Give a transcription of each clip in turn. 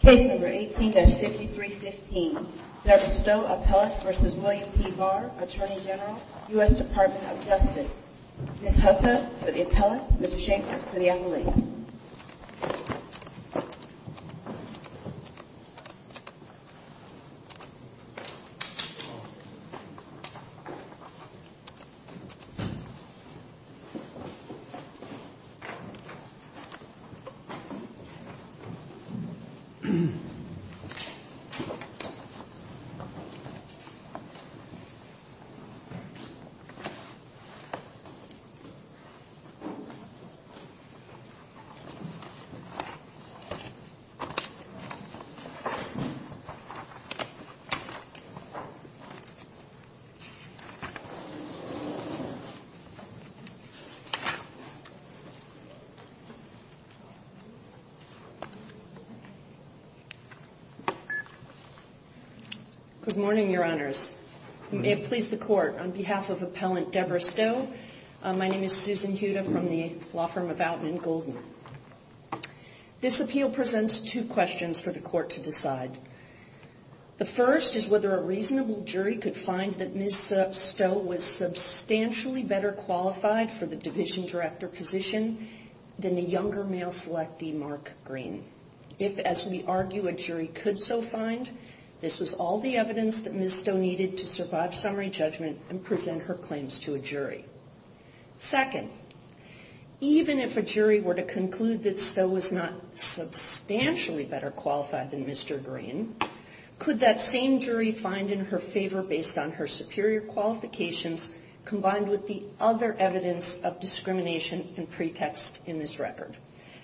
Case No. 18-5315, Debra Stowe Appellate v. William P. Barr, Attorney General, U.S. Department of Justice. Ms. Husserl for the appellate, Mr. Shanker for the appellate. Mr. Shanker. Good morning, Your Honors. May it please the Court, on behalf of Appellant Debra Stowe, my name is Susan Huda from the law firm of Outman & Golden. This appeal presents two questions for the Court to decide. The first is whether a reasonable jury could find that Ms. Stowe was substantially better qualified for the Division Director position than the younger male selectee, Mark Green. If, as we argue, a jury could so find, this was all the evidence that Ms. Stowe needed to survive summary judgment and present her claims to a jury. Second, even if a jury were to conclude that Stowe was not substantially better qualified than Mr. Green, could that same jury find in her favor based on her superior qualifications combined with the other evidence of discrimination and pretext in this record?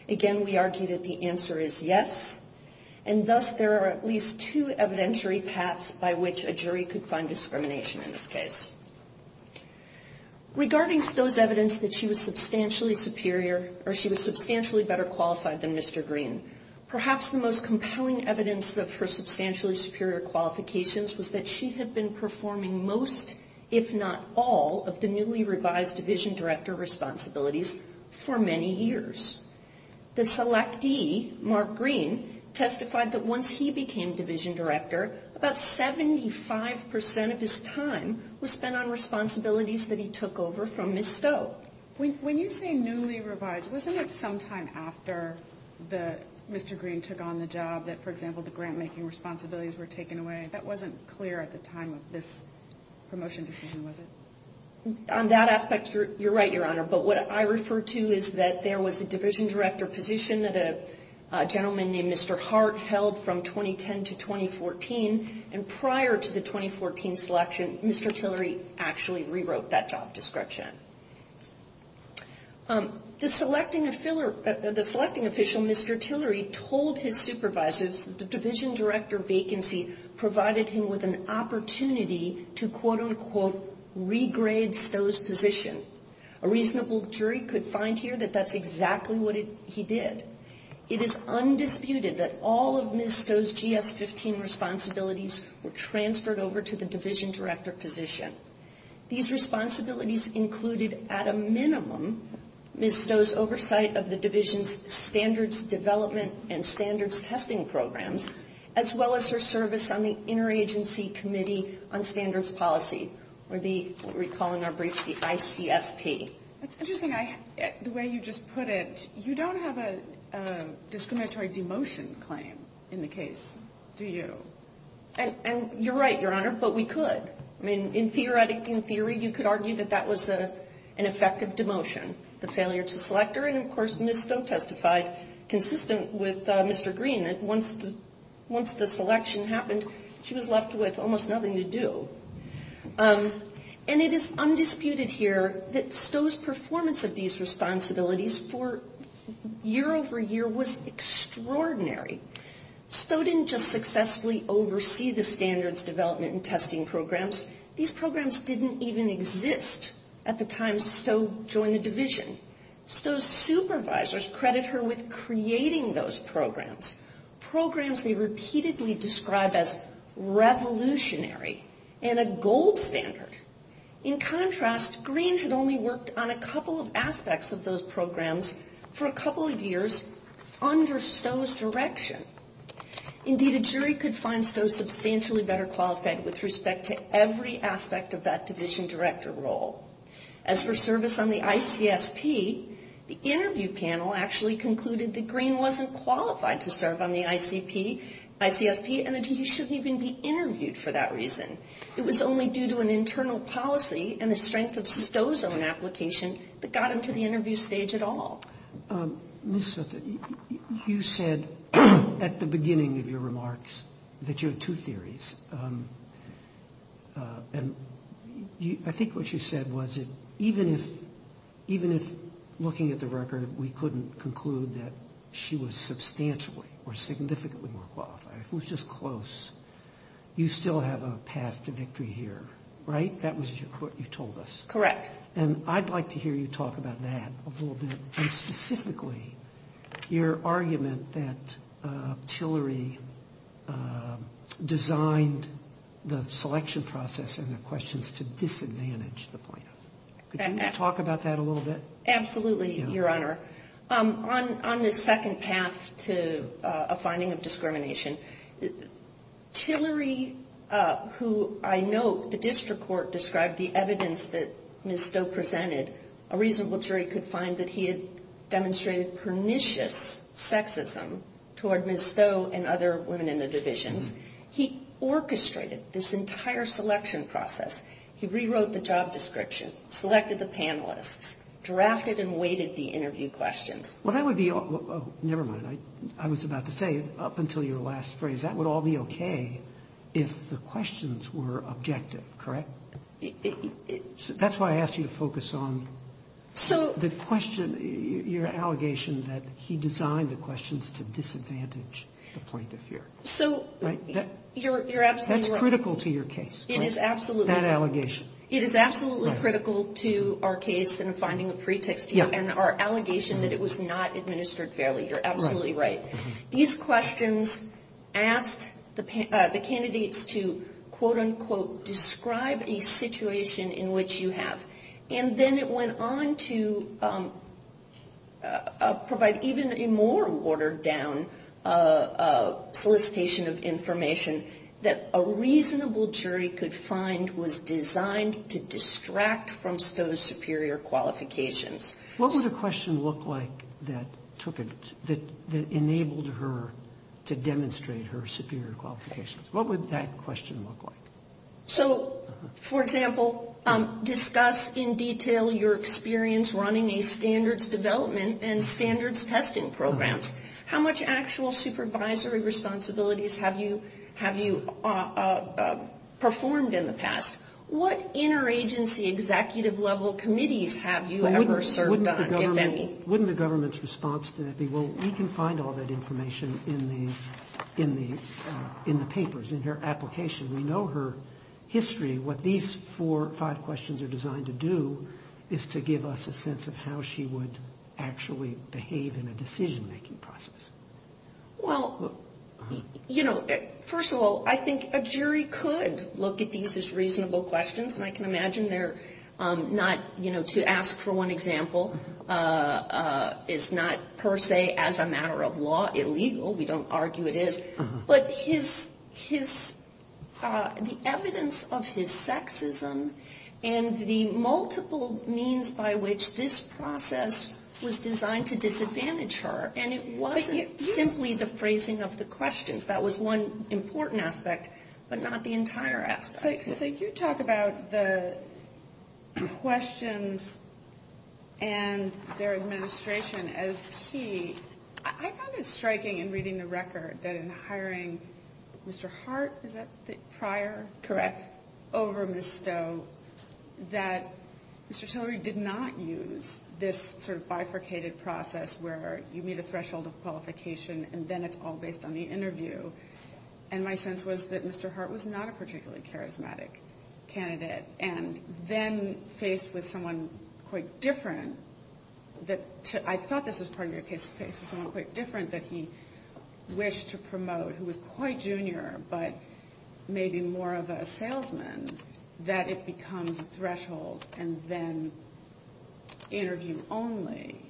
Again, we argue that the answer is yes, and thus there are at least two evidentiary paths by which a jury could find discrimination in this case. Regarding Stowe's evidence that she was substantially superior, or she was substantially better qualified than Mr. Green, perhaps the most compelling evidence of her substantially superior qualifications was that she had been performing most, if not all, of the newly revised Division Director responsibilities for many years. The selectee, Mark Green, testified that once he became Division Director, about 75% of his time was spent on responsibilities that he took over from Ms. Stowe. When you say newly revised, wasn't it sometime after Mr. Green took on the job that, for example, the grant-making responsibilities were taken away? That wasn't clear at the time of this promotion decision, was it? On that aspect, you're right, Your Honor, but what I refer to is that there was a Division Director position that a gentleman named Mr. Hart held from 2010 to 2014, and prior to the 2014 selection, Mr. Tillery actually rewrote that job description. The selecting official, Mr. Tillery, told his supervisors that the Division Director vacancy provided him with an opportunity to, quote, unquote, regrade Stowe's position. A reasonable jury could find here that that's exactly what he did. It is undisputed that all of Ms. Stowe's GS-15 responsibilities were transferred over to the Division Director position. These responsibilities included, at a minimum, Ms. Stowe's oversight of the Division's standards development and standards testing programs, as well as her service on the Interagency Committee on Standards Policy, or the, recalling our briefs, the ICSP. That's interesting. The way you just put it, you don't have a discriminatory demotion claim in the case, do you? And you're right, Your Honor, but we could. I mean, in theory, you could argue that that was an effective demotion. The failure to select her, and, of course, Ms. Stowe testified, consistent with Mr. Green, that once the selection happened, she was left with almost nothing to do. And it is undisputed here that Stowe's performance of these responsibilities for year over year was extraordinary. Stowe didn't just successfully oversee the standards development and testing programs. These programs didn't even exist at the time Stowe joined the Division. Stowe's supervisors credit her with creating those programs, programs they repeatedly describe as revolutionary and a gold standard. In contrast, Green had only worked on a couple of aspects of those programs for a couple of years under Stowe's direction. Indeed, a jury could find Stowe substantially better qualified with respect to every aspect of that Division Director role. As for service on the ICSP, the interview panel actually concluded that Green wasn't qualified to serve on the ICSP and that he shouldn't even be interviewed for that reason. It was only due to an internal policy and the strength of Stowe's own application that got him to the interview stage at all. Ms. Sutton, you said at the beginning of your remarks that you had two theories. And I think what you said was that even if looking at the record, we couldn't conclude that she was substantially or significantly more qualified, it was just close, you still have a path to victory here, right? That was what you told us. Correct. And I'd like to hear you talk about that a little bit, and specifically your argument that Tillery designed the selection process and the questions to disadvantage the plaintiffs. Could you talk about that a little bit? Absolutely, Your Honor. Tillery, who I know the district court described the evidence that Ms. Stowe presented, a reasonable jury could find that he had demonstrated pernicious sexism toward Ms. Stowe and other women in the divisions. He orchestrated this entire selection process. He rewrote the job description, selected the panelists, drafted and weighted the interview questions. Never mind. I was about to say, up until your last phrase, that would all be okay if the questions were objective, correct? That's why I asked you to focus on the question, your allegation that he designed the questions to disadvantage the plaintiff here. So you're absolutely right. That's critical to your case, that allegation. It is absolutely critical to our case in finding a pretext, and our allegation that it was not administered fairly. You're absolutely right. These questions asked the candidates to, quote, unquote, describe a situation in which you have. And then it went on to provide even a more watered-down solicitation of information that a reasonable jury could find was designed to distract from Stowe's superior qualifications. What would a question look like that enabled her to demonstrate her superior qualifications? What would that question look like? So, for example, discuss in detail your experience running a standards development and standards testing programs. How much actual supervisory responsibilities have you performed in the past? What interagency executive-level committees have you ever served on, if any? Wouldn't the government's response to that be, well, we can find all that information in the papers, in her application. We know her history. What these four or five questions are designed to do is to give us a sense of how she would actually behave in a decision-making process. Well, you know, first of all, I think a jury could look at these as reasonable questions, and I can imagine they're not, you know, to ask for one example is not per se as a matter of law illegal. We don't argue it is. But the evidence of his sexism and the multiple means by which this process was designed to disadvantage her, and it wasn't simply the phrasing of the questions. That was one important aspect, but not the entire aspect. So you talk about the questions and their administration as key. I found it striking in reading the record that in hiring Mr. Hart, is that prior? Correct. Over Ms. Stowe, that Mr. Tillery did not use this sort of bifurcated process where you meet a threshold of qualification and then it's all based on the interview. And my sense was that Mr. Hart was not a particularly charismatic candidate, and then faced with someone quite different, that I thought this was part of your case, faced with someone quite different that he wished to promote, who was quite junior, but maybe more of a salesman, that it becomes a threshold and then interview only.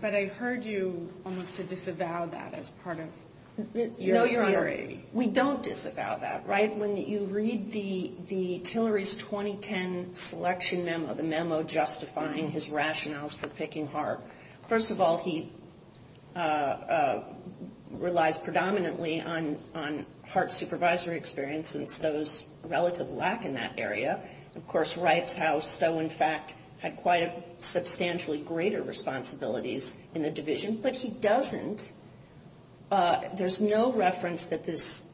But I heard you almost to disavow that as part of your theory. No, Your Honor. We don't disavow that, right? When you read the Tillery's 2010 selection memo, the memo justifying his rationales for picking Hart, first of all, he relies predominantly on Hart's supervisory experience and Stowe's relative lack in that area. Of course, writes how Stowe, in fact, had quite a substantially greater responsibilities in the division, but he doesn't. There's no reference that this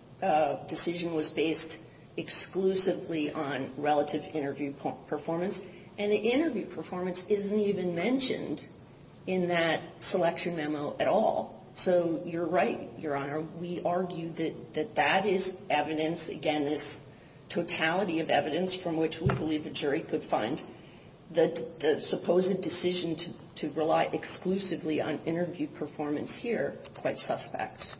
decision was based exclusively on relative interview performance, and the interview performance isn't even mentioned in that selection memo at all. So you're right, Your Honor. We argue that that is evidence, again, this totality of evidence from which we believe a jury could find the supposed decision to rely exclusively on interview performance here quite suspect.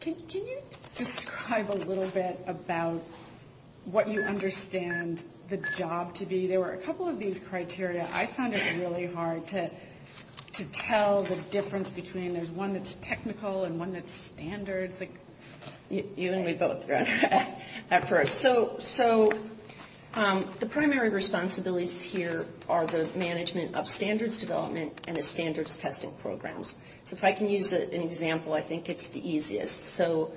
Can you describe a little bit about what you understand the job to be? There were a couple of these criteria. I found it really hard to tell the difference between one that's technical and one that's standard. You and me both, Your Honor. So the primary responsibilities here are the management of standards development and the standards testing programs. So if I can use an example, I think it's the easiest. So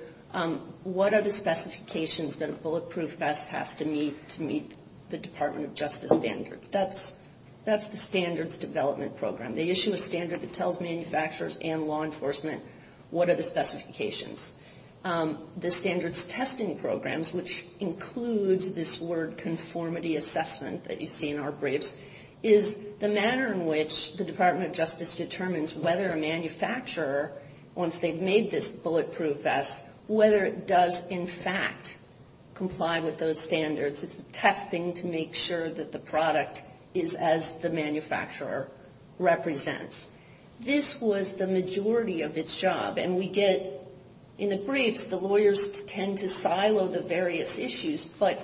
what are the specifications that a bulletproof vest has to meet to meet the Department of Justice standards? That's the standards development program. They issue a standard that tells manufacturers and law enforcement what are the specifications. The standards testing programs, which includes this word conformity assessment that you see in our briefs, is the manner in which the Department of Justice determines whether a manufacturer, once they've made this bulletproof vest, whether it does in fact comply with those standards. It's testing to make sure that the product is as the manufacturer represents. This was the majority of its job. And we get, in the briefs, the lawyers tend to silo the various issues. But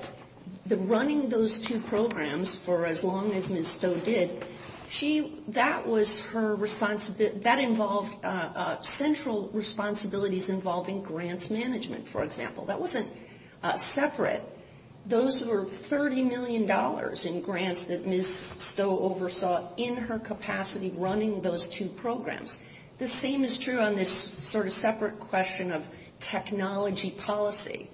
running those two programs for as long as Ms. Stowe did, that was her responsibility. That involved central responsibilities involving grants management, for example. That wasn't separate. Those were $30 million in grants that Ms. Stowe oversaw in her capacity running those two programs. The same is true on this sort of separate question of technology policy.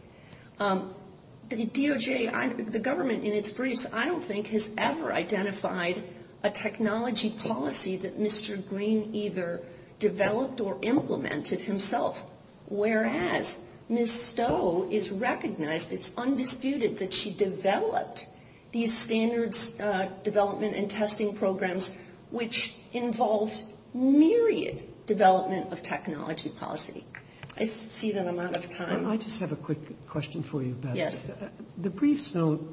The DOJ, the government in its briefs, I don't think has ever identified a technology policy that Mr. Green either developed or implemented himself, whereas Ms. Stowe is recognized. It's undisputed that she developed these standards development and testing programs, which involved myriad development of technology policy. I see that I'm out of time. I just have a quick question for you. Yes. The briefs don't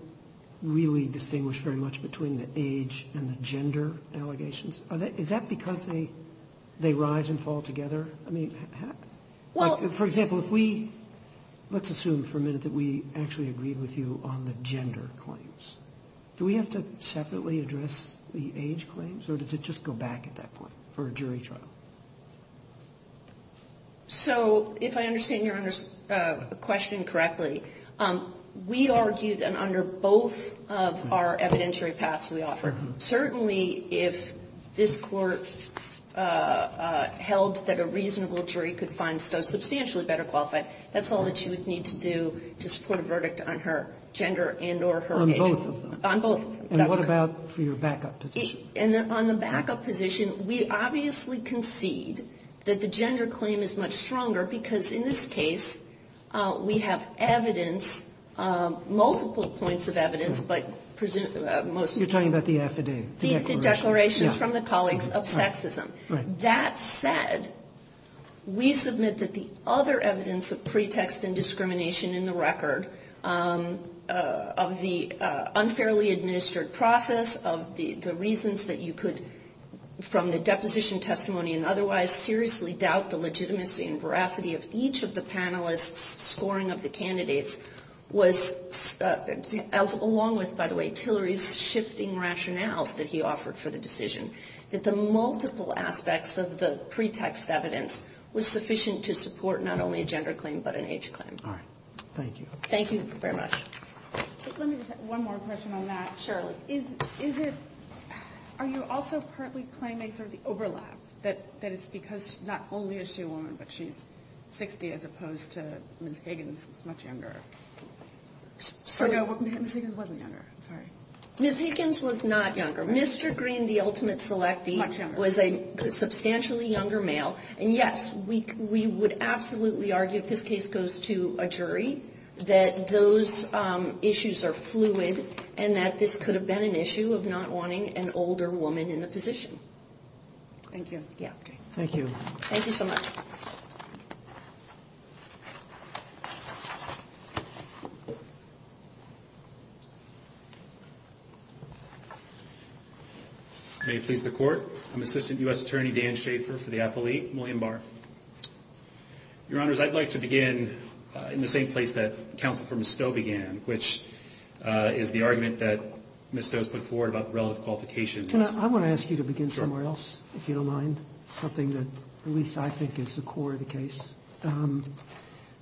really distinguish very much between the age and the gender allegations. Is that because they rise and fall together? I mean, for example, if we, let's assume for a minute that we actually agreed with you on the gender claims. Do we have to separately address the age claims, or does it just go back at that point for a jury trial? So if I understand Your Honor's question correctly, we argue that under both of our evidentiary paths we offer, certainly if this Court held that a reasonable jury could find Stowe substantially better qualified, that's all that you would need to do to support a verdict on her gender and or her age. On both of them? On both. And what about for your backup position? And on the backup position, we obviously concede that the gender claim is much stronger because in this case we have evidence, multiple points of evidence, but most of the evidence. You're talking about the affidavit. The declarations from the colleagues of sexism. That said, we submit that the other evidence of pretext and discrimination in the record of the unfairly administered process, of the reasons that you could, from the deposition testimony and otherwise, seriously doubt the legitimacy and veracity of each of the panelists' scoring of the candidates, was, along with, by the way, Tillery's shifting rationales that he offered for the decision, that the multiple aspects of the pretext evidence was sufficient to support not only a gender claim but an age claim. All right. Thank you. Thank you very much. Let me just have one more question on that, Shirley. Are you also partly claiming sort of the overlap, that it's because not only is she a woman, but she's 60 as opposed to Ms. Higgins, who's much younger? Or no, Ms. Higgins wasn't younger. Sorry. Ms. Higgins was not younger. Mr. Green, the ultimate selectee, was a substantially younger male. And yes, we would absolutely argue, if this case goes to a jury, that those issues are fluid and that this could have been an issue of not wanting an older woman in the position. Thank you. Yeah. Thank you. Thank you so much. May it please the Court. I'm Assistant U.S. Attorney Dan Schaefer for the appellee, William Barr. Your Honors, I'd like to begin in the same place that Counsel for McStowe began, which is the argument that Ms. Stowe has put forward about the relative qualifications. Can I? I want to ask you to begin somewhere else, if you don't mind, something that at least I think is the core of the case.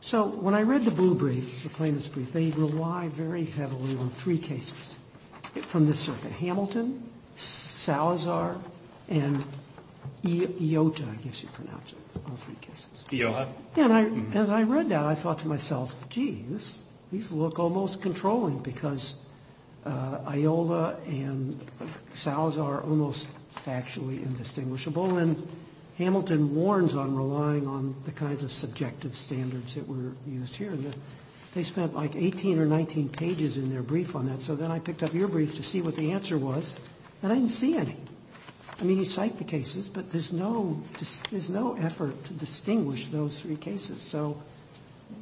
So when I read the Blue Brief, the claimants' brief, they rely very heavily on three cases from this circuit, which are Hamilton, Salazar, and Iota, I guess you pronounce it, all three cases. Iota. And as I read that, I thought to myself, geez, these look almost controlling, because Iola and Salazar are almost factually indistinguishable. And Hamilton warns on relying on the kinds of subjective standards that were used here. They spent like 18 or 19 pages in their brief on that. And so then I picked up your brief to see what the answer was, and I didn't see any. I mean, you cite the cases, but there's no effort to distinguish those three cases. So,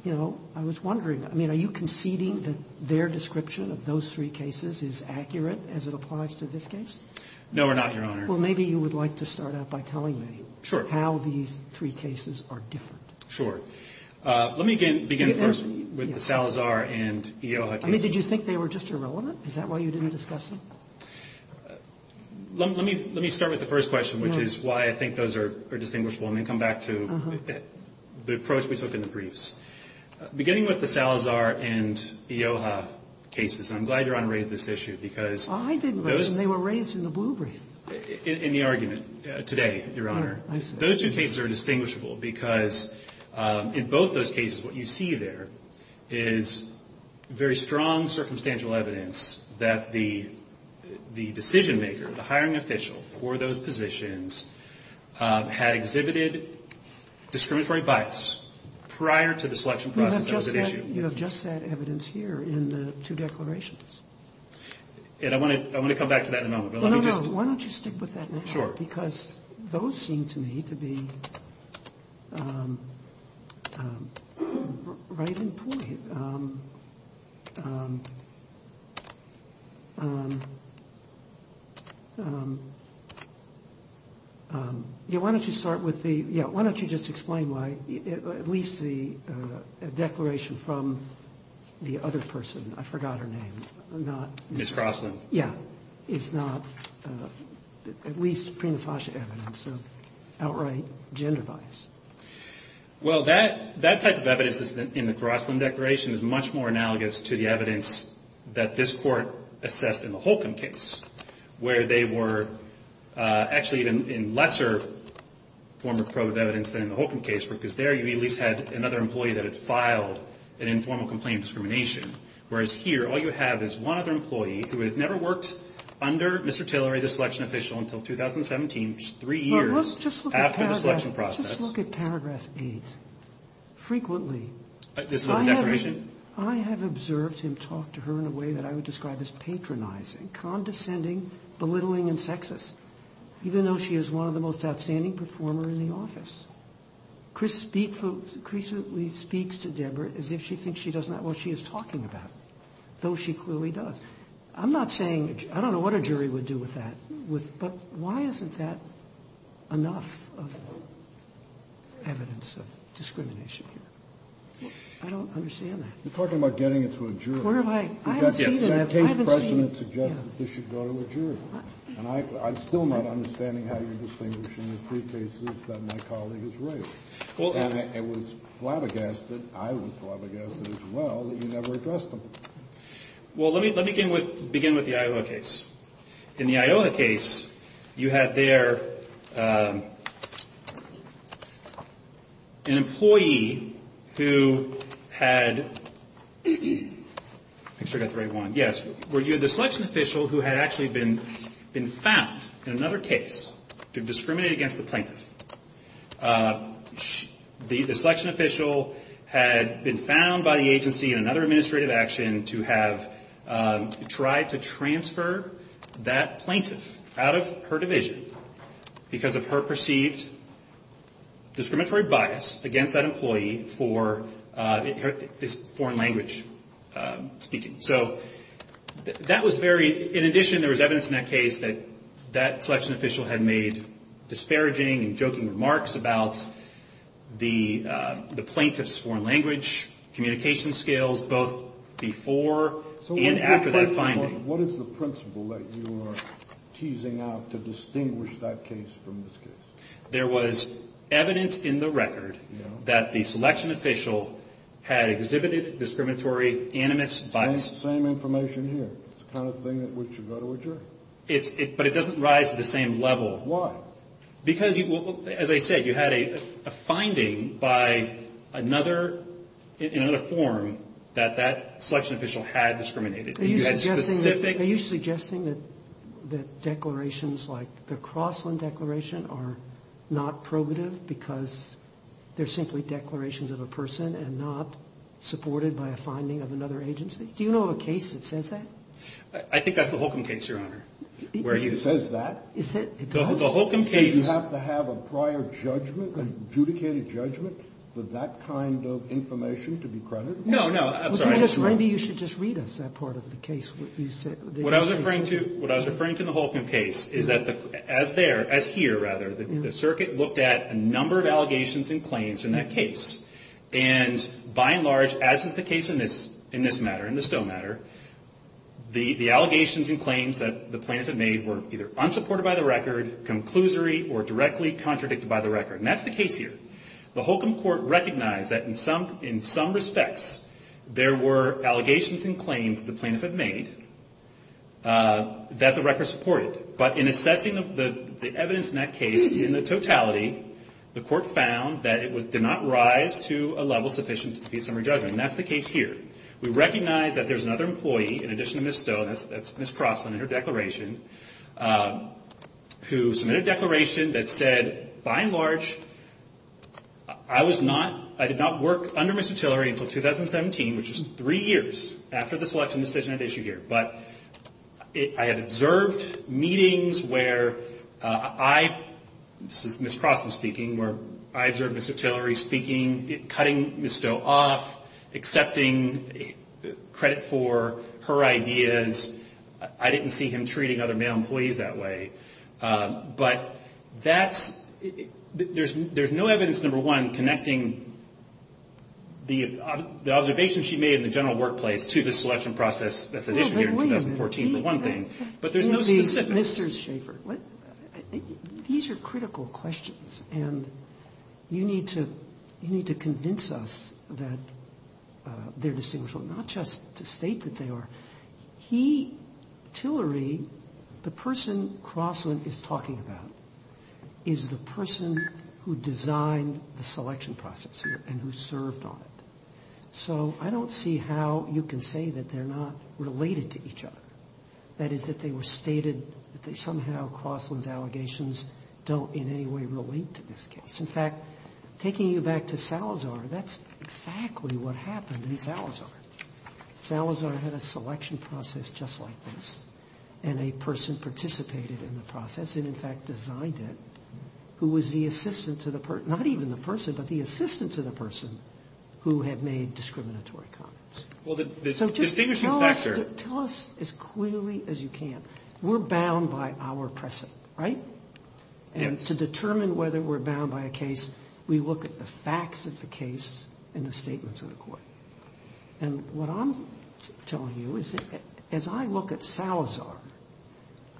you know, I was wondering, I mean, are you conceding that their description of those three cases is accurate as it applies to this case? No, we're not, Your Honor. Well, maybe you would like to start out by telling me how these three cases are different. Sure. Let me begin first with the Salazar and Iota cases. I mean, did you think they were just irrelevant? Is that why you didn't discuss them? Let me start with the first question, which is why I think those are distinguishable, and then come back to the approach we took in the briefs. Beginning with the Salazar and Iota cases, I'm glad Your Honor raised this issue, because those are the two cases that are distinguishable, because in both those cases what you see there is very strong circumstantial evidence that the decision maker, the hiring official for those positions, had exhibited discriminatory bias prior to the selection process that was at issue. You have just that evidence here in the two declarations. And I want to come back to that in a moment. No, no, no. Why don't you stick with that now? Sure. Because those seem to me to be right in point. Yeah, why don't you start with the – yeah, why don't you just explain why at least the declaration from the other person – I forgot her name. Ms. Crossman. Yeah. It's not at least prima facie evidence of outright gender bias. Well, that type of evidence in the Crossman declaration is much more analogous to the evidence that this Court assessed in the Holcomb case, where they were actually in lesser form of evidence than in the Holcomb case, because there you at least had another employee that had filed an informal complaint of discrimination. Whereas here all you have is one other employee who had never worked under Mr. Tillery, the selection official, until 2017, which is three years after the selection process. Just look at paragraph 8. Frequently. This is the declaration? I have observed him talk to her in a way that I would describe as patronizing, condescending, belittling, and sexist, even though she is one of the most outstanding performers in the office. Chris speaks to Deborah as if she thinks she does not know what she is talking about, though she clearly does. I'm not saying I don't know what a jury would do with that, but why isn't that enough of evidence of discrimination here? I don't understand that. You're talking about getting it to a jury. Where have I? I haven't seen it. The case precedent suggests that this should go to a jury, and I'm still not understanding how you're distinguishing the three cases that my colleague has raised. And it was flabbergasted, I was flabbergasted as well, that you never addressed them. Well, let me begin with the Iowa case. In the Iowa case, you had there an employee who had the selection official who had actually been found in another case to discriminate against the plaintiff. The selection official had been found by the agency in another administrative action to have tried to transfer that plaintiff out of her division because of her perceived discriminatory bias against that employee for foreign language speaking. So that was very, in addition there was evidence in that case that that employee was making remarks about the plaintiff's foreign language communication skills both before and after that finding. So what is the principle that you are teasing out to distinguish that case from this case? There was evidence in the record that the selection official had exhibited discriminatory animus bias. Same information here. It's the kind of thing that should go to a jury? But it doesn't rise to the same level. Why? Because, as I said, you had a finding in another form that that selection official had discriminated. Are you suggesting that declarations like the Crossland Declaration are not probative because they're simply declarations of a person and not supported by a finding of another agency? Do you know of a case that says that? I think that's the Holcomb case, Your Honor. It says that? The Holcomb case. You have to have a prior judgment, an adjudicated judgment, for that kind of information to be credited? No, no. I'm sorry. Maybe you should just read us that part of the case. What I was referring to in the Holcomb case is that, as here, rather, the circuit looked at a number of allegations and claims in that case. And by and large, as is the case in this matter, in the Stowe matter, the allegations and claims that the plaintiff had made were either unsupported by the record, conclusory, or directly contradicted by the record. And that's the case here. The Holcomb court recognized that, in some respects, there were allegations and claims the plaintiff had made that the record supported. But in assessing the evidence in that case, in the totality, the court found that it did not rise to a level sufficient to be a summary judgment. And that's the case here. We recognize that there's another employee, in addition to Ms. Stowe, and that's Ms. Crossland and her declaration, who submitted a declaration that said, by and large, I was not, I did not work under Ms. Utillery until 2017, which is three years after the selection decision at issue here. But I had observed meetings where I, this is Ms. Crossland speaking, where I observed Ms. Utillery speaking, cutting Ms. Stowe off, accepting credit for her ideas. I didn't see him treating other male employees that way. But that's, there's no evidence, number one, connecting the observation she made in the general workplace to the selection process that's at issue here in 2014, for one thing. But there's no specifics. Mr. Schaffer, these are critical questions. And you need to convince us that they're distinguishable, not just to state that they are. He, Utillery, the person Crossland is talking about is the person who designed the selection process and who served on it. So I don't see how you can say that they're not related to each other, that is, that they were stated, that they somehow, Crossland's allegations don't in any way relate to this case. In fact, taking you back to Salazar, that's exactly what happened in Salazar. Salazar had a selection process just like this. And a person participated in the process and, in fact, designed it, who was the assistant to the person, not even the person, but the assistant to the person who had made discriminatory comments. So just tell us as clearly as you can. We're bound by our precedent, right? And to determine whether we're bound by a case, we look at the facts of the case and the statements of the court. And what I'm telling you is that as I look at Salazar,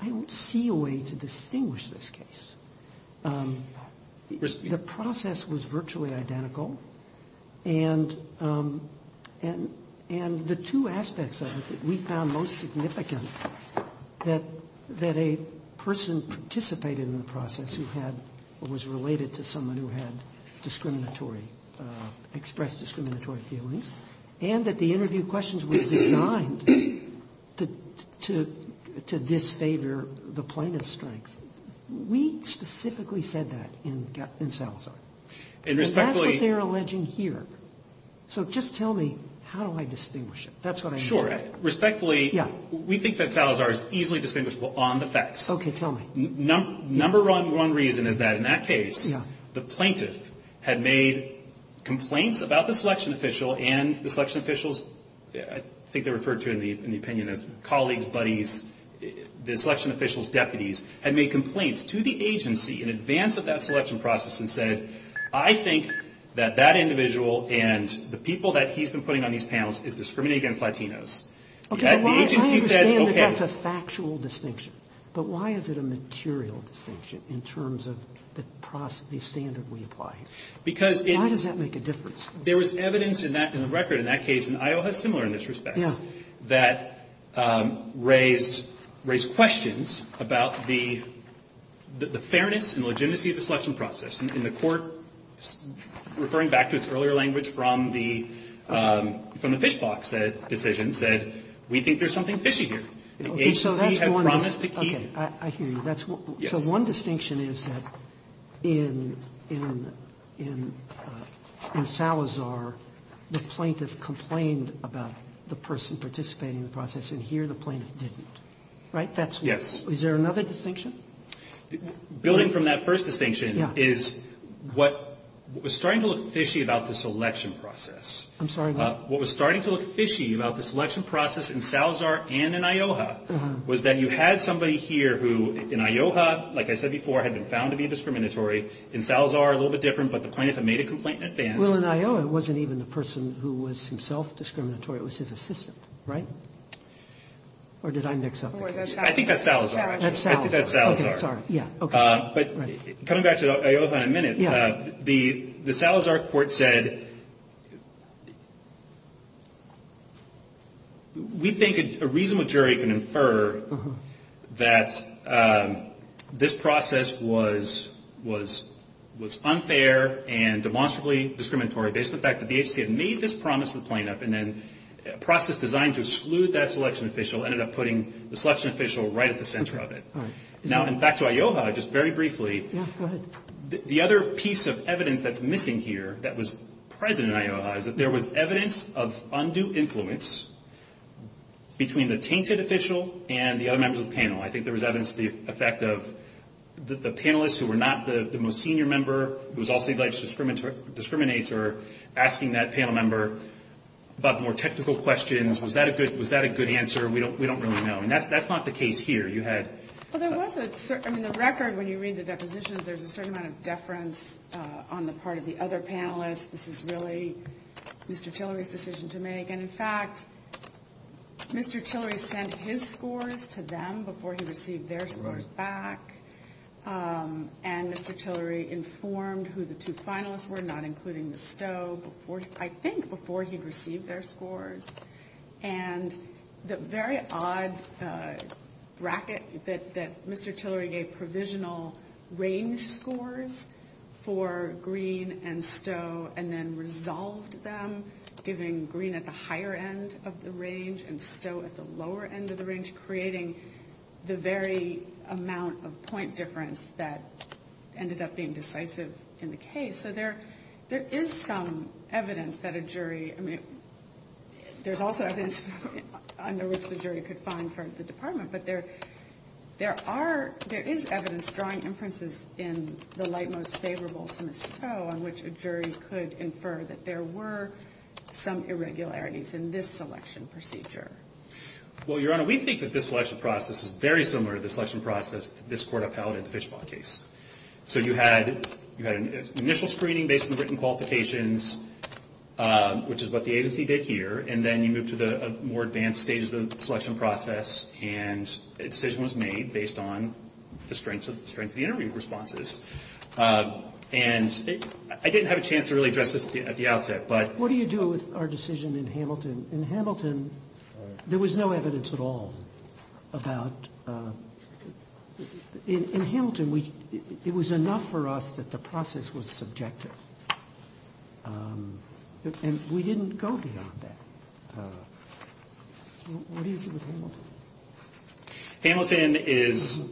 I don't see a way to distinguish this case. The process was virtually identical, and the two aspects of it that we found most significant, that a person participated in the process who had, or was related to someone who had discriminatory, expressed discriminatory feelings, and that the interview questions were designed to disfavor the plaintiff's strengths. We specifically said that in Salazar. And that's what they're alleging here. So just tell me, how do I distinguish it? That's what I'm getting at. Sure. Respectfully, we think that Salazar is easily distinguishable on the facts. Okay. Tell me. Number one reason is that in that case, the plaintiff had made complaints about the selection official and the selection officials, I think they're referred to in the opinion as colleagues, buddies, the selection officials, deputies, had made complaints to the agency in advance of that selection process and said, I think that that individual and the people that he's been putting on these panels is discriminating against Latinos. Okay. The agency said, okay. I understand that that's a factual distinction. But why is it a material distinction in terms of the process, the standard we apply? Because it. Why does that make a difference? There was evidence in that, in the record in that case, and Iowa is similar in this respect, that raised questions about the fairness and legitimacy of the selection process. And the Court, referring back to its earlier language from the fish box decision, said, we think there's something fishy here. The agency had promised to keep. Okay. I hear you. So one distinction is that in Salazar, the plaintiff complained about the person participating in the process, and here the plaintiff didn't. Right? Yes. Is there another distinction? Building from that first distinction is what was starting to look fishy about the selection process. I'm sorry? What was starting to look fishy about the selection process in Salazar and in Ioha, like I said before, had been found to be discriminatory. In Salazar, a little bit different, but the plaintiff had made a complaint in advance. Well, in Ioha, it wasn't even the person who was himself discriminatory. It was his assistant. Right? Or did I mix up the two? I think that's Salazar. That's Salazar. I think that's Salazar. Okay. Sorry. Yeah. Okay. Right. But coming back to Ioha in a minute, the Salazar court said, we think a reasonable jury can infer that this process was unfair and demonstrably discriminatory based on the fact that the agency had made this promise to the plaintiff, and then a process designed to exclude that selection official ended up putting the selection official right at the center of it. Okay. All right. Now, back to Ioha, just very briefly. Yeah. Go ahead. The other piece of evidence that's missing here that was present in Ioha is that there was evidence of undue influence between the tainted official and the other members of the panel. I think there was evidence of the effect of the panelists who were not the most senior member, who was also the alleged discriminator, asking that panel member about more technical questions. Was that a good answer? We don't really know. And that's not the case here. You had... Well, there was a certain... I mean, the record, when you read the depositions, there's a certain amount of deference on the part of the other panelists. This is really Mr. Tillery's decision to make. And, in fact, Mr. Tillery sent his scores to them before he received their scores back. Right. And Mr. Tillery informed who the two finalists were, not including the Stowe, I think before he received their scores. And the very odd bracket that Mr. Tillery gave provisional range scores for Green and then resolved them, giving Green at the higher end of the range and Stowe at the lower end of the range, creating the very amount of point difference that ended up being decisive in the case. So there is some evidence that a jury... I mean, there's also evidence under which the jury could find for the department. But there is evidence drawing inferences in the light most favorable to Ms. Stowe on which a jury could infer that there were some irregularities in this selection procedure. Well, Your Honor, we think that this selection process is very similar to the selection process that this Court upheld in the Fishbaugh case. So you had initial screening based on written qualifications, which is what the agency did here. And then you moved to the more advanced stages of the selection process. And a decision was made based on the strength of the interview responses. And I didn't have a chance to really address this at the outset, but... What do you do with our decision in Hamilton? In Hamilton, there was no evidence at all about... In Hamilton, it was enough for us that the process was subjective. And we didn't go beyond that. What do you do with Hamilton? Hamilton is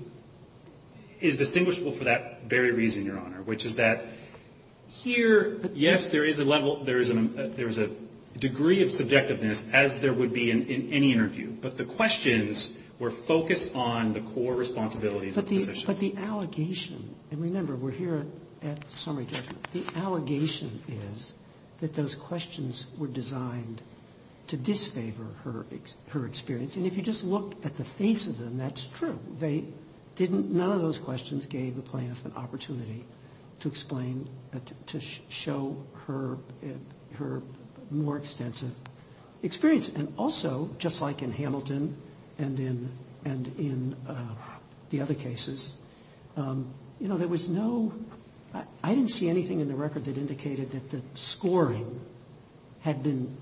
distinguishable for that very reason, Your Honor. Which is that here, yes, there is a level, there is a degree of subjectiveness, as there would be in any interview. But the questions were focused on the core responsibilities of the position. But the allegation, and remember, we're here at summary judgment. The allegation is that those questions were designed to disfavor her experience. And if you just look at the face of them, that's true. They didn't... None of those questions gave the plaintiff an opportunity to explain, to show her more extensive experience. And also, just like in Hamilton and in the other cases, you know, there was no... I didn't see anything in the record that indicated that the scoring had been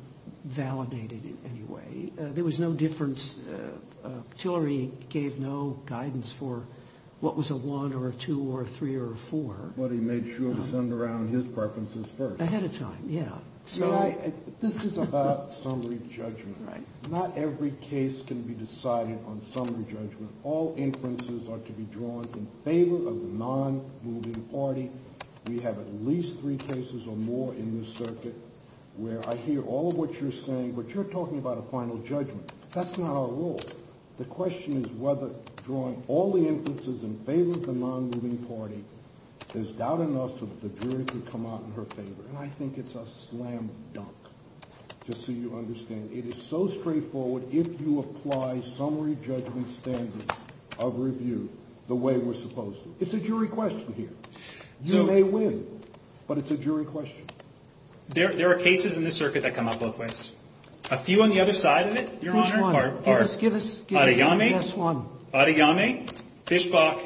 validated in any way. There was no difference. Tillery gave no guidance for what was a 1 or a 2 or a 3 or a 4. But he made sure to send around his preferences first. Ahead of time, yeah. This is about summary judgment. Not every case can be decided on summary judgment. All inferences are to be drawn in favor of the non-moving party. We have at least three cases or more in this circuit where I hear all of what you're saying. But you're talking about a final judgment. That's not our role. The question is whether drawing all the inferences in favor of the non-moving party is doubt enough so that the jury can come out in her favor. And I think it's a slam dunk, just so you understand. It is so straightforward if you apply summary judgment standards of review the way we're supposed to. It's a jury question here. You may win, but it's a jury question. There are cases in this circuit that come out both ways. A few on the other side of it, Your Honor, are Adeyemi, Fishbach,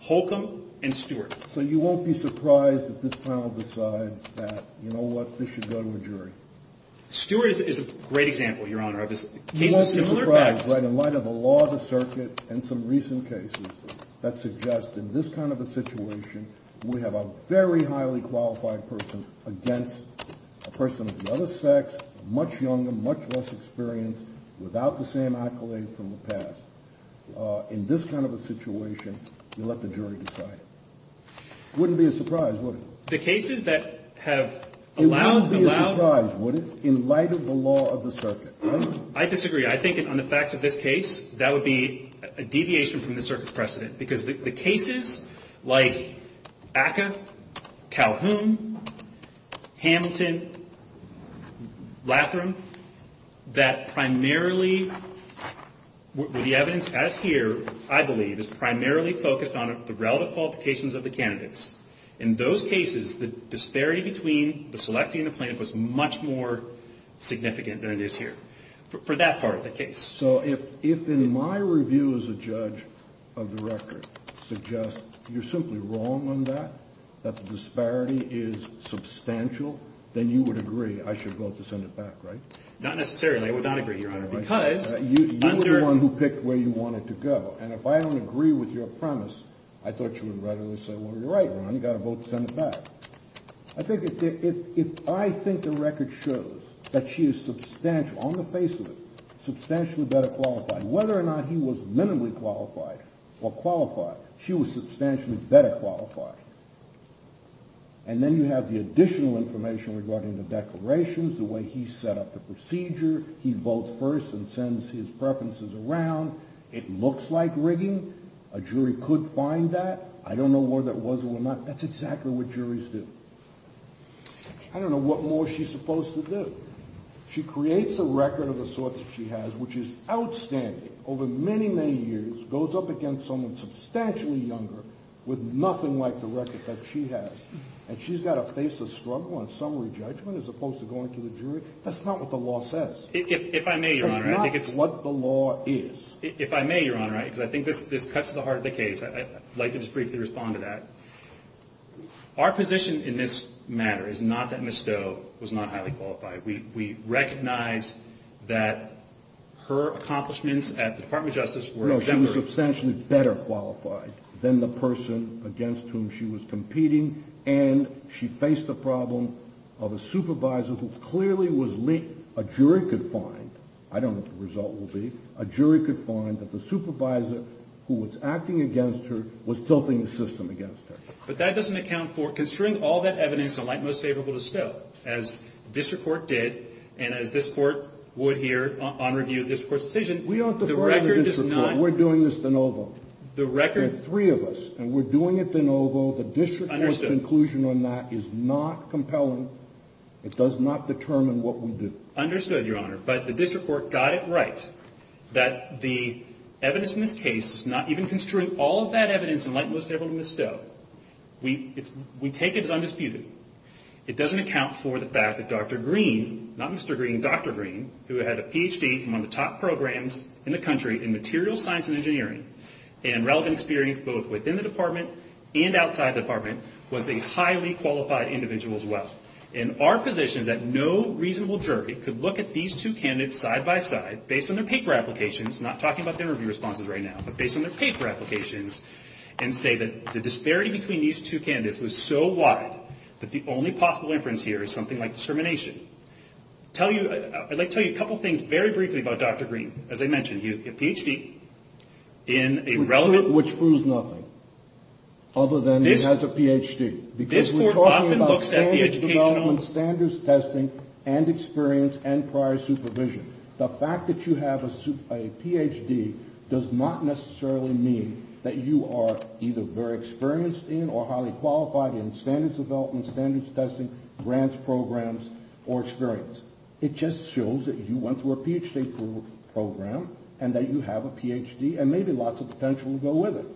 Holcomb, and Stewart. So you won't be surprised if this panel decides that, you know what, this should go to a jury. Stewart is a great example, Your Honor. You won't be surprised, right, in light of the law of the circuit and some recent cases that suggest in this kind of a situation we have a very highly qualified person against a person of the other sex, much younger, much less experienced, without the same accolade from the past. In this kind of a situation, you let the jury decide. It wouldn't be a surprise, would it? The cases that have allowed the allow It wouldn't be a surprise, would it, in light of the law of the circuit, right? I disagree. I think on the facts of this case, that would be a deviation from the circuit's precedent because the cases like Acca, Calhoun, Hamilton, Latham, that primarily, the evidence as here, I believe, is primarily focused on the relative qualifications of the candidates. In those cases, the disparity between the selectee and the plaintiff was much more significant than it is here. For that part of the case. So if in my review as a judge of the record suggests you're simply wrong on that, that the disparity is substantial, then you would agree I should vote to send it back, right? Not necessarily. I would not agree, Your Honor, because You were the one who picked where you wanted to go, and if I don't agree with your premise, I thought you would readily say, well, you're right, Ron, you've got to vote to send it back. I think the record shows that she is substantial, on the face of it, substantially better qualified. Whether or not he was minimally qualified or qualified, she was substantially better qualified. And then you have the additional information regarding the declarations, the way he set up the procedure, he votes first and sends his preferences around, it looks like rigging, a jury could find that, I don't know whether that was or was not, that's exactly what juries do. I don't know what more she's supposed to do. She creates a record of the sort that she has, which is outstanding, over many, many years, goes up against someone substantially younger, with nothing like the record that she has, and she's got to face a struggle on summary judgment as opposed to going to the jury? That's not what the law says. If I may, Your Honor, I think it's That's not what the law is. If I may, Your Honor, I think this cuts to the heart of the case. I'd like to just briefly respond to that. Our position in this matter is not that Ms. Stowe was not highly qualified. We recognize that her accomplishments at the Department of Justice were exemplary. No, she was substantially better qualified than the person against whom she was competing, and she faced the problem of a supervisor who clearly was linked. A jury could find, I don't know what the result will be, a jury could find that the supervisor who was acting against her was tilting the system against her. But that doesn't account for, considering all that evidence, the light most favorable to Stowe, as district court did, and as this court would here on review of district court's decision, We aren't defrauding district court. The record does not We're doing this de novo. The record There are three of us, and we're doing it de novo. The district court's conclusion on that is not compelling. It does not determine what we do. Understood, Your Honor, but the district court got it right that the evidence in this case is not even construing all of that evidence in light most favorable to Ms. Stowe. We take it as undisputed. It doesn't account for the fact that Dr. Green, not Mr. Green, Dr. Green, who had a Ph.D. from one of the top programs in the country in material science and engineering, and relevant experience both within the department and outside the department, was a highly qualified individual as well. And our position is that no reasonable jury could look at these two candidates side-by-side, based on their paper applications, not talking about their review responses right now, but based on their paper applications, and say that the disparity between these two candidates was so wide that the only possible inference here is something like discrimination. I'd like to tell you a couple things very briefly about Dr. Green. As I mentioned, he had a Ph.D. in a relevant Which proves nothing other than he has a Ph.D. because we're talking about standards development, standards testing, and experience and prior supervision. The fact that you have a Ph.D. does not necessarily mean that you are either very experienced in or highly qualified in standards development, standards testing, grants programs, or experience. It just shows that you went through a Ph.D. program and that you have a Ph.D. and maybe lots of potential to go with it.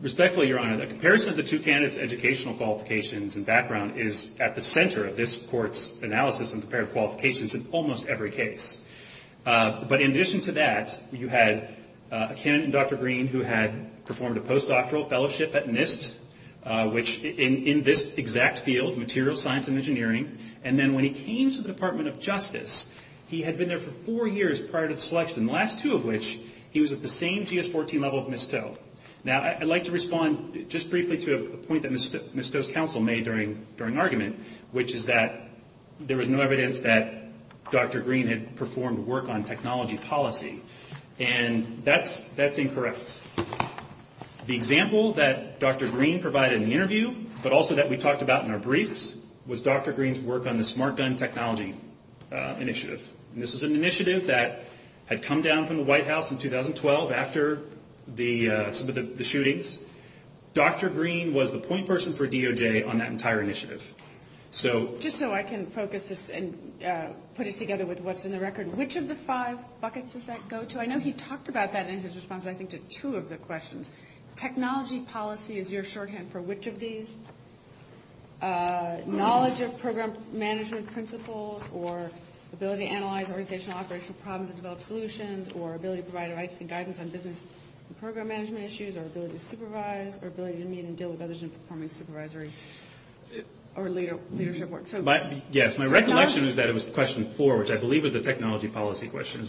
Respectfully, Your Honor, the comparison of the two candidates' educational qualifications and background is at the center of this court's analysis and comparative qualifications in almost every case. But in addition to that, you had a candidate, Dr. Green, who had performed a postdoctoral fellowship at NIST, which in this exact field, materials science and engineering, and then when he came to the Department of Justice, he had been there for four years prior to the selection, and the last two of which, he was at the same GS-14 level as Ms. Stowe. Now, I'd like to respond just briefly to a point that Ms. Stowe's counsel made during argument, which is that there was no evidence that Dr. Green had performed work on technology policy. And that's incorrect. The example that Dr. Green provided in the interview, but also that we talked about in our briefs, was Dr. Green's work on the smart gun technology initiative. And this was an initiative that had come down from the White House in 2012 after some of the shootings. Dr. Green was the point person for DOJ on that entire initiative. Just so I can focus this and put it together with what's in the record, which of the five buckets does that go to? I know he talked about that in his response, I think, to two of the questions. Technology policy is your shorthand for which of these? Knowledge of program management principles, or ability to analyze organizational operational problems and develop solutions, or ability to provide advice and guidance on business and program management issues, or ability to supervise, or ability to meet and deal with others in performing supervisory or leadership work. Yes, my recollection is that it was question four, which I believe was the technology policy question.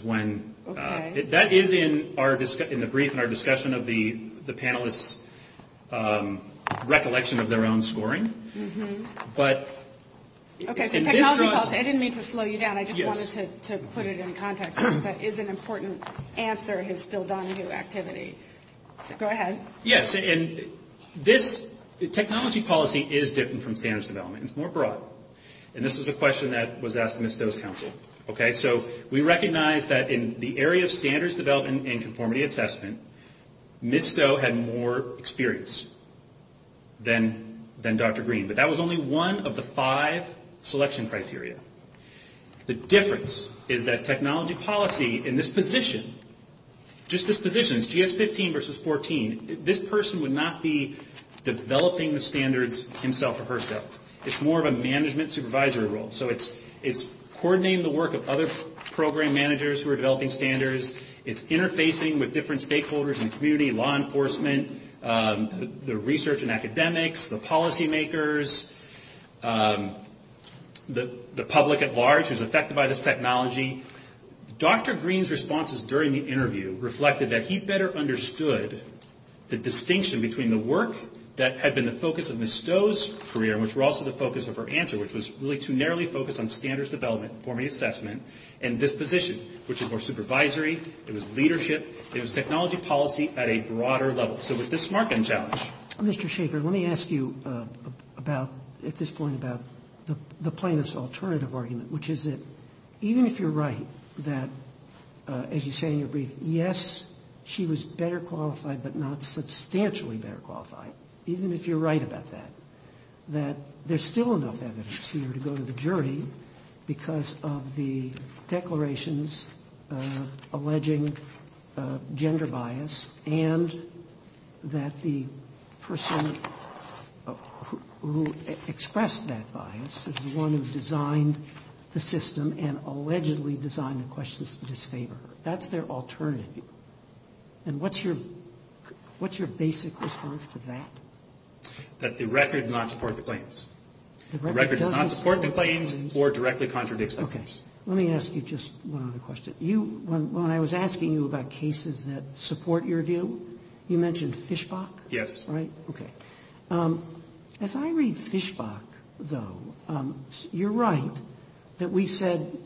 That is in the brief and our discussion of the panelists' recollection of their own scoring. Okay, so technology policy. I didn't mean to slow you down. I just wanted to put it in context, because that is an important answer in his still Donahue activity. Go ahead. Yes, and this technology policy is different from standards development. It's more broad. And this was a question that was asked in the Stowe's Council. Okay, so we recognize that in the area of standards development and conformity assessment, Ms. Stowe had more experience than Dr. Green. But that was only one of the five selection criteria. The difference is that technology policy in this position, just this position, GS15 versus 14, this person would not be developing the standards himself or herself. It's more of a management supervisory role. So it's coordinating the work of other program managers who are developing standards. It's interfacing with different stakeholders in the community, law enforcement, the research and academics, the policy makers, the public at large who's affected by this technology. Dr. Green's responses during the interview reflected that he better understood the distinction between the work that had been the focus of Ms. Stowe's career, which were also the focus of her answer, which was really to narrowly focus on standards development, conformity assessment, and this position, which is more supervisory. It was leadership. It was technology policy at a broader level. So with this smart gun challenge. Mr. Shaffer, let me ask you about, at this point, about the plaintiff's alternative argument, which is that even if you're right that, as you say in your brief, yes, she was better qualified, but not substantially better qualified, even if you're right about that, that there's still enough evidence here to go to the jury because of the declarations alleging gender bias and that the person who expressed that bias is the one who designed the system and allegedly designed the questions to disfavor her. That's their alternative. And what's your basic response to that? That the record does not support the claims. The record does not support the claims or directly contradicts them. Okay. Let me ask you just one other question. When I was asking you about cases that support your view, you mentioned Fishbach, right? Yes. Okay. As I read Fishbach, though, you're right that we said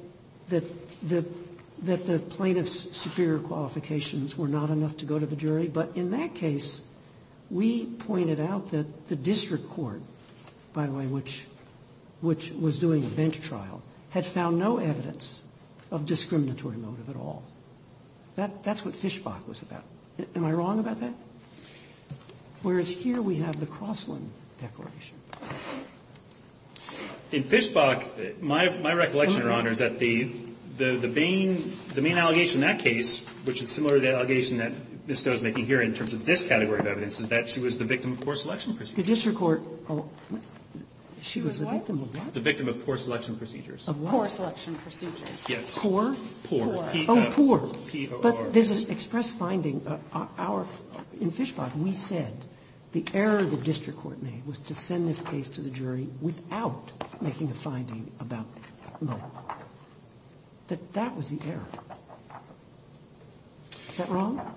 that the plaintiff's superior qualifications were not enough to go to the jury, but in that case, we pointed out that the district court, by the way, which was doing a bench trial, had found no evidence of discriminatory motive at all. That's what Fishbach was about. Am I wrong about that? Whereas here we have the Crossland Declaration. In Fishbach, my recollection, Your Honor, is that the main allegation in that case, which is similar to the allegation that Ms. Doe is making here in terms of this category of evidence, is that she was the victim of poor selection procedures. The district court, she was the victim of what? The victim of poor selection procedures. Of what? Poor selection procedures. Yes. Poor? Poor. Oh, poor. P-O-R. But there's an express finding. In Fishbach, we said the error the district court made was to send this case to the jury without making a finding about motive. That that was the error. Is that wrong? No.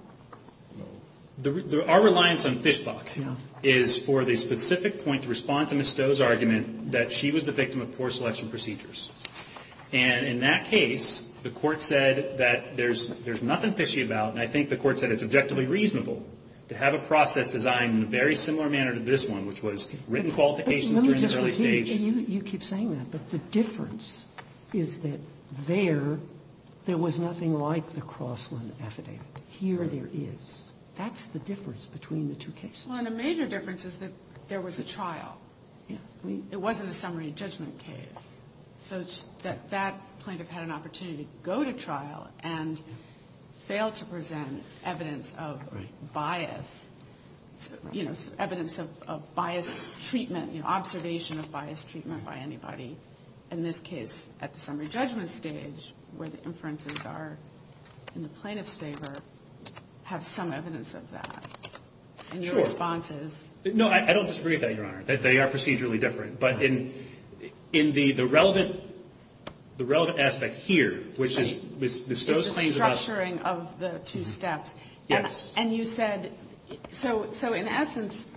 Our reliance on Fishbach is for the specific point to respond to Ms. Doe's argument that she was the victim of poor selection procedures. And in that case, the Court said that there's nothing fishy about, and I think the Court said it's objectively reasonable, to have a process designed in a very similar manner to this one, which was written qualifications during this early stage. And you keep saying that, but the difference is that there, there was nothing like the Crossland affidavit. Here there is. That's the difference between the two cases. Well, and a major difference is that there was a trial. Yeah. It wasn't a summary judgment case. So that that plaintiff had an opportunity to go to trial and fail to present evidence of bias, you know, evidence of biased treatment, you know, observation of biased treatment by anybody. In this case, at the summary judgment stage, where the inferences are in the plaintiff's favor, have some evidence of that. Sure. And your response is? No, I don't disagree with that, Your Honor. They are procedurally different. But in, in the, the relevant, the relevant aspect here, which is Ms. Doe's claims about. It's the structuring of the two steps. Yes. And you said, so, so in essence,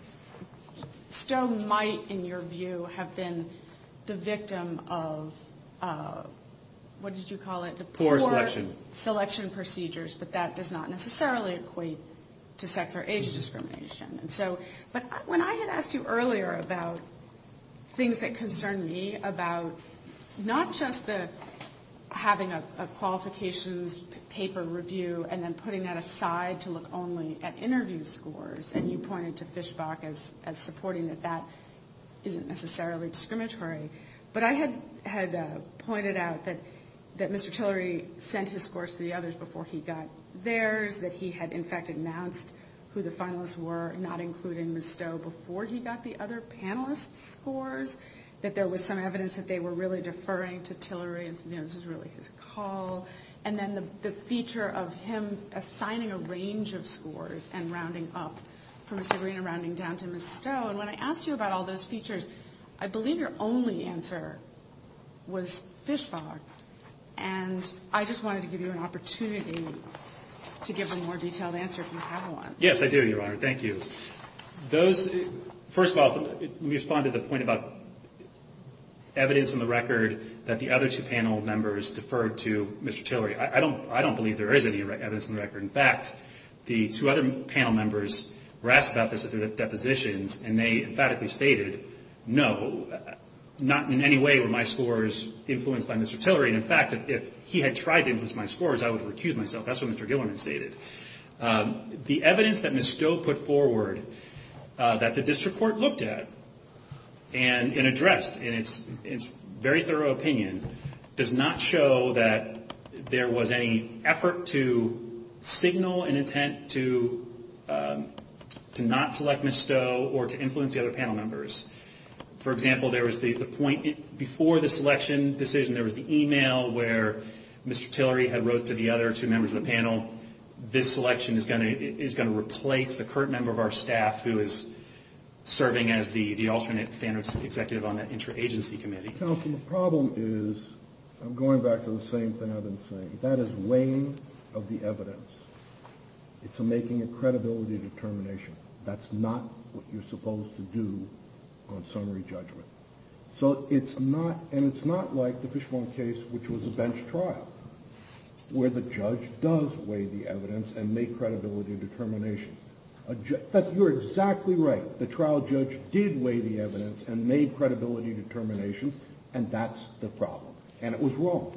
Stowe might, in your view, have been the victim of, what did you call it? Poor selection. Poor selection procedures, but that does not necessarily equate to sex or age discrimination. And so, but when I had asked you earlier about things that concern me about not just the, having a qualifications paper review and then putting that aside to look only at interview scores, and you pointed to Fischbach as, as supporting that that isn't necessarily discriminatory, but I had, had pointed out that, that Mr. Tillery sent his scores to the others before he got theirs, that he had, in fact, announced who the finalists were, not including Ms. Doe, before he got the other panelists' scores, that there was some evidence that they were really deferring to Tillery and, you know, this was really his call. And then the, the feature of him assigning a range of scores and rounding up from Mr. Green and rounding down to Ms. Stowe. And when I asked you about all those features, I believe your only answer was Fischbach. And I just wanted to give you an opportunity to give a more detailed answer if you have one. Yes, I do, Your Honor. Thank you. Those, first of all, let me respond to the point about evidence in the record that the other two panel members deferred to Mr. Tillery. I don't, I don't believe there is any evidence in the record. In fact, the two other panel members were asked about this at their depositions, and they emphatically stated, no, not in any way were my scores influenced by Mr. Tillery. And in fact, if he had tried to influence my scores, I would have recused myself. That's what Mr. Gillerman stated. The evidence that Ms. Stowe put forward, that the district court looked at and addressed in its very thorough opinion, does not show that there was any effort to signal an intent to not select Ms. Stowe or to influence the other panel members. For example, there was the point before the selection decision, there was the email where Mr. Tillery had wrote to the other two members of the panel. This selection is going to replace the current member of our staff who is serving as the alternate standards executive on that interagency committee. Counsel, the problem is, I'm going back to the same thing I've been saying. That is weighing of the evidence. It's making a credibility determination. That's not what you're supposed to do on summary judgment. So it's not, and it's not like the Fishbone case, which was a bench trial, where the judge does weigh the evidence and make credibility determination. You're exactly right. The trial judge did weigh the evidence and made credibility determination, and that's the problem. And it was wrong.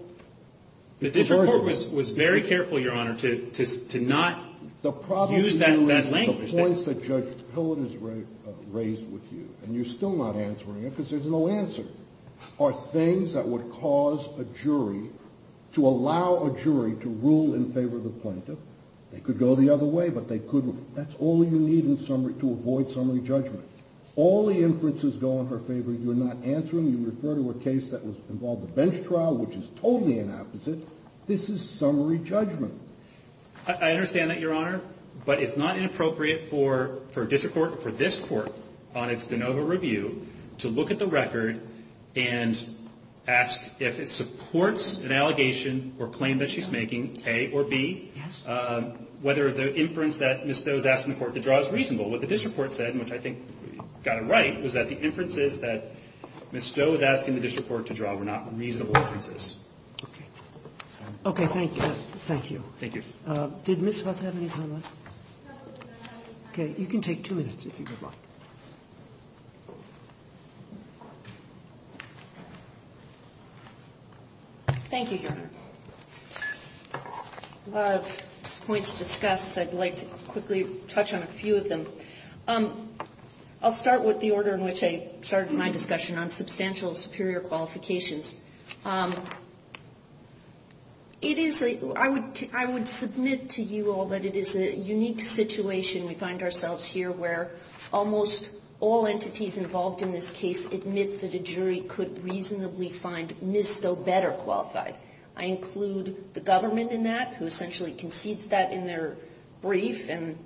The district court was very careful, Your Honor, to not use that language. The points that Judge Pillen has raised with you, and you're still not answering it because there's no answer, are things that would cause a jury to allow a jury to rule in favor of the plaintiff. They could go the other way, but they couldn't. That's all you need to avoid summary judgment. All the inferences go in her favor. You're not answering. You refer to a case that involved a bench trial, which is totally the opposite. This is summary judgment. I understand that, Your Honor. But it's not inappropriate for a district court, for this Court on its de novo review, to look at the record and ask if it supports an allegation or claim that she's making, A, or B, whether the inference that Ms. Stowe is asking the court to draw is reasonable. What the district court said, which I think you've got it right, was that the inferences that Ms. Stowe is asking the district court to draw were not reasonable inferences. Okay. Okay. Thank you. Thank you. Did Ms. Huth have any time left? Okay. You can take two minutes, if you would like. Thank you, Your Honor. A lot of points to discuss. I'd like to quickly touch on a few of them. I'll start with the order in which I started my discussion on substantial superior qualifications. I would submit to you all that it is a unique situation we find ourselves here where almost all entities involved in this case admit that a jury could reasonably find Ms. Stowe better qualified. I include the government in that, who essentially concedes that in their brief and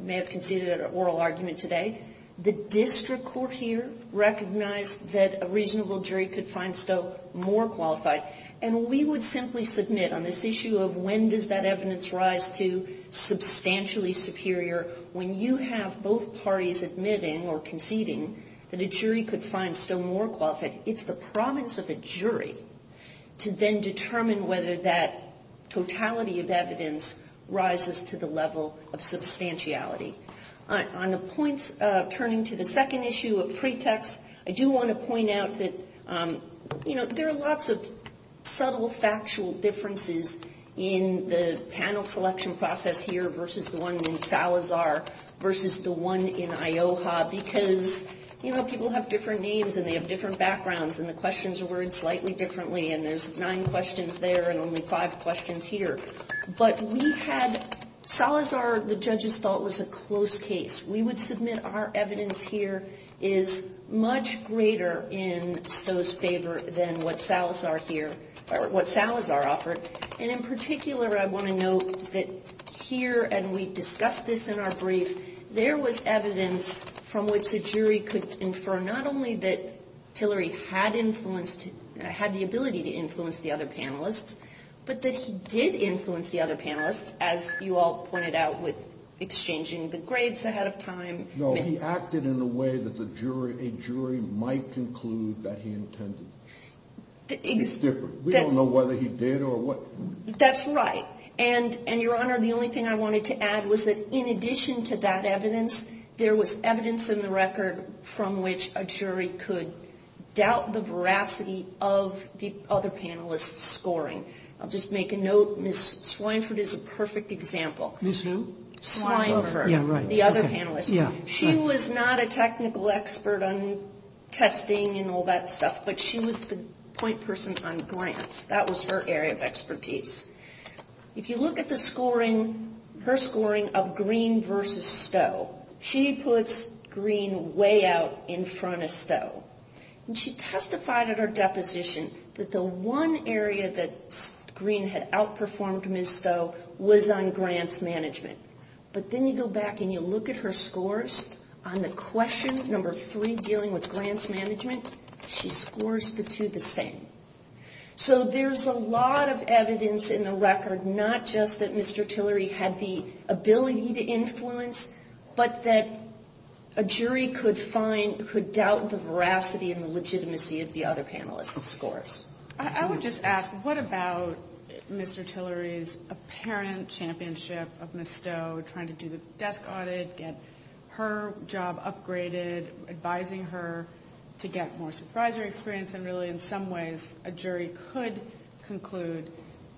may have conceded an oral argument today. The district court here recognized that a reasonable jury could find Stowe more qualified. And we would simply submit on this issue of when does that evidence rise to substantially superior when you have both parties admitting or conceding that a jury could find Stowe more qualified. It's the province of a jury to then determine whether that totality of evidence rises to the level of substantiality. On the points turning to the second issue of pretext, I do want to point out that, you know, there are lots of subtle factual differences in the panel selection process here versus the one in Salazar versus the one in Ioha because, you know, people have different names and they have different backgrounds and the questions are worded slightly differently and there's nine questions there and only five questions here. But we had Salazar, the judges thought, was a close case. We would submit our evidence here is much greater in Stowe's favor than what Salazar offered. And in particular, I want to note that here, and we discussed this in our brief, there was evidence from which the jury could infer not only that Tillery had the ability to influence the other panelists, but that he did influence the other panelists as you all pointed out with exchanging the grades ahead of time. No, he acted in a way that a jury might conclude that he intended. It's different. We don't know whether he did or what. That's right. And, Your Honor, the only thing I wanted to add was that in addition to that evidence, there was evidence in the record from which a jury could doubt the veracity of the other panelists' scoring. I'll just make a note. Ms. Swineford is a perfect example. Ms. Who? Swineford. Yeah, right. The other panelist. She was not a technical expert on testing and all that stuff, but she was the point person on grants. That was her area of expertise. If you look at the scoring, her scoring of Greene versus Stowe, she puts Greene way out in front of Stowe. And she testified at her deposition that the one area that Greene had outperformed Ms. Stowe was on grants management. But then you go back and you look at her scores on the question number three dealing with grants management, she scores the two the same. So there's a lot of evidence in the record, not just that Mr. Tillery had the ability to influence, but that a jury could doubt the veracity and the legitimacy of the other panelists' scores. I would just ask, what about Mr. Tillery's apparent championship of Ms. Stowe trying to do the desk audit, get her job upgraded, advising her to get more supervisory experience, and really in some ways a jury could conclude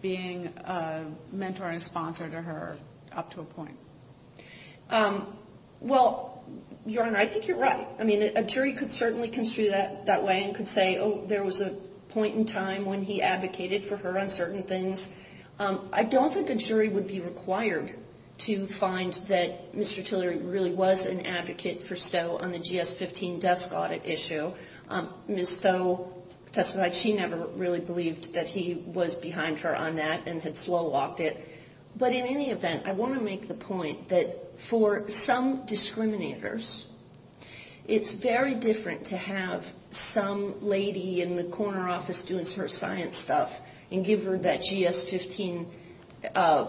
being a mentor and a sponsor to her up to a point? Well, Your Honor, I think you're right. I mean, a jury could certainly construe that that way and could say, oh, there was a point in time when he advocated for her on certain things. I don't think a jury would be required to find that Mr. Tillery really was an advocate for Stowe on the GS-15 desk audit issue. Ms. Stowe testified she never really believed that he was behind her on that and had slow-walked it. But in any event, I want to make the point that for some discriminators, it's very different to have some lady in the corner office doing her science stuff and give her that GS-15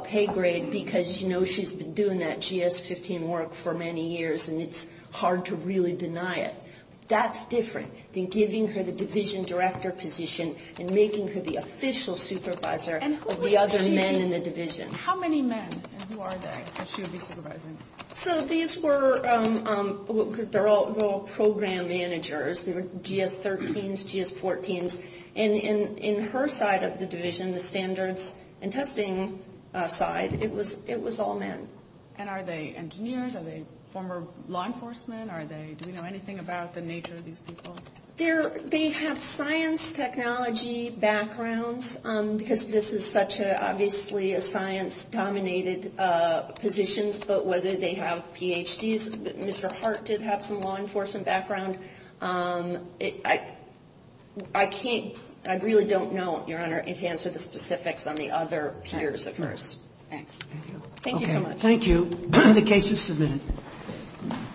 pay grade because she's been doing that GS-15 work for many years, and it's hard to really deny it. That's different than giving her the division director position and making her the official supervisor of the other men in the division. How many men and who are they that she would be supervising? So these were all program managers. They were GS-13s, GS-14s. And in her side of the division, the standards and testing side, it was all men. And are they engineers? Are they former law enforcement? Do we know anything about the nature of these people? They have science technology backgrounds because this is such, obviously, a science-dominated position, but whether they have Ph.D.s. Mr. Hart did have some law enforcement background. I really don't know, Your Honor, in terms of the specifics on the other peers of hers. Thanks. Thank you so much. Thank you. The case is submitted.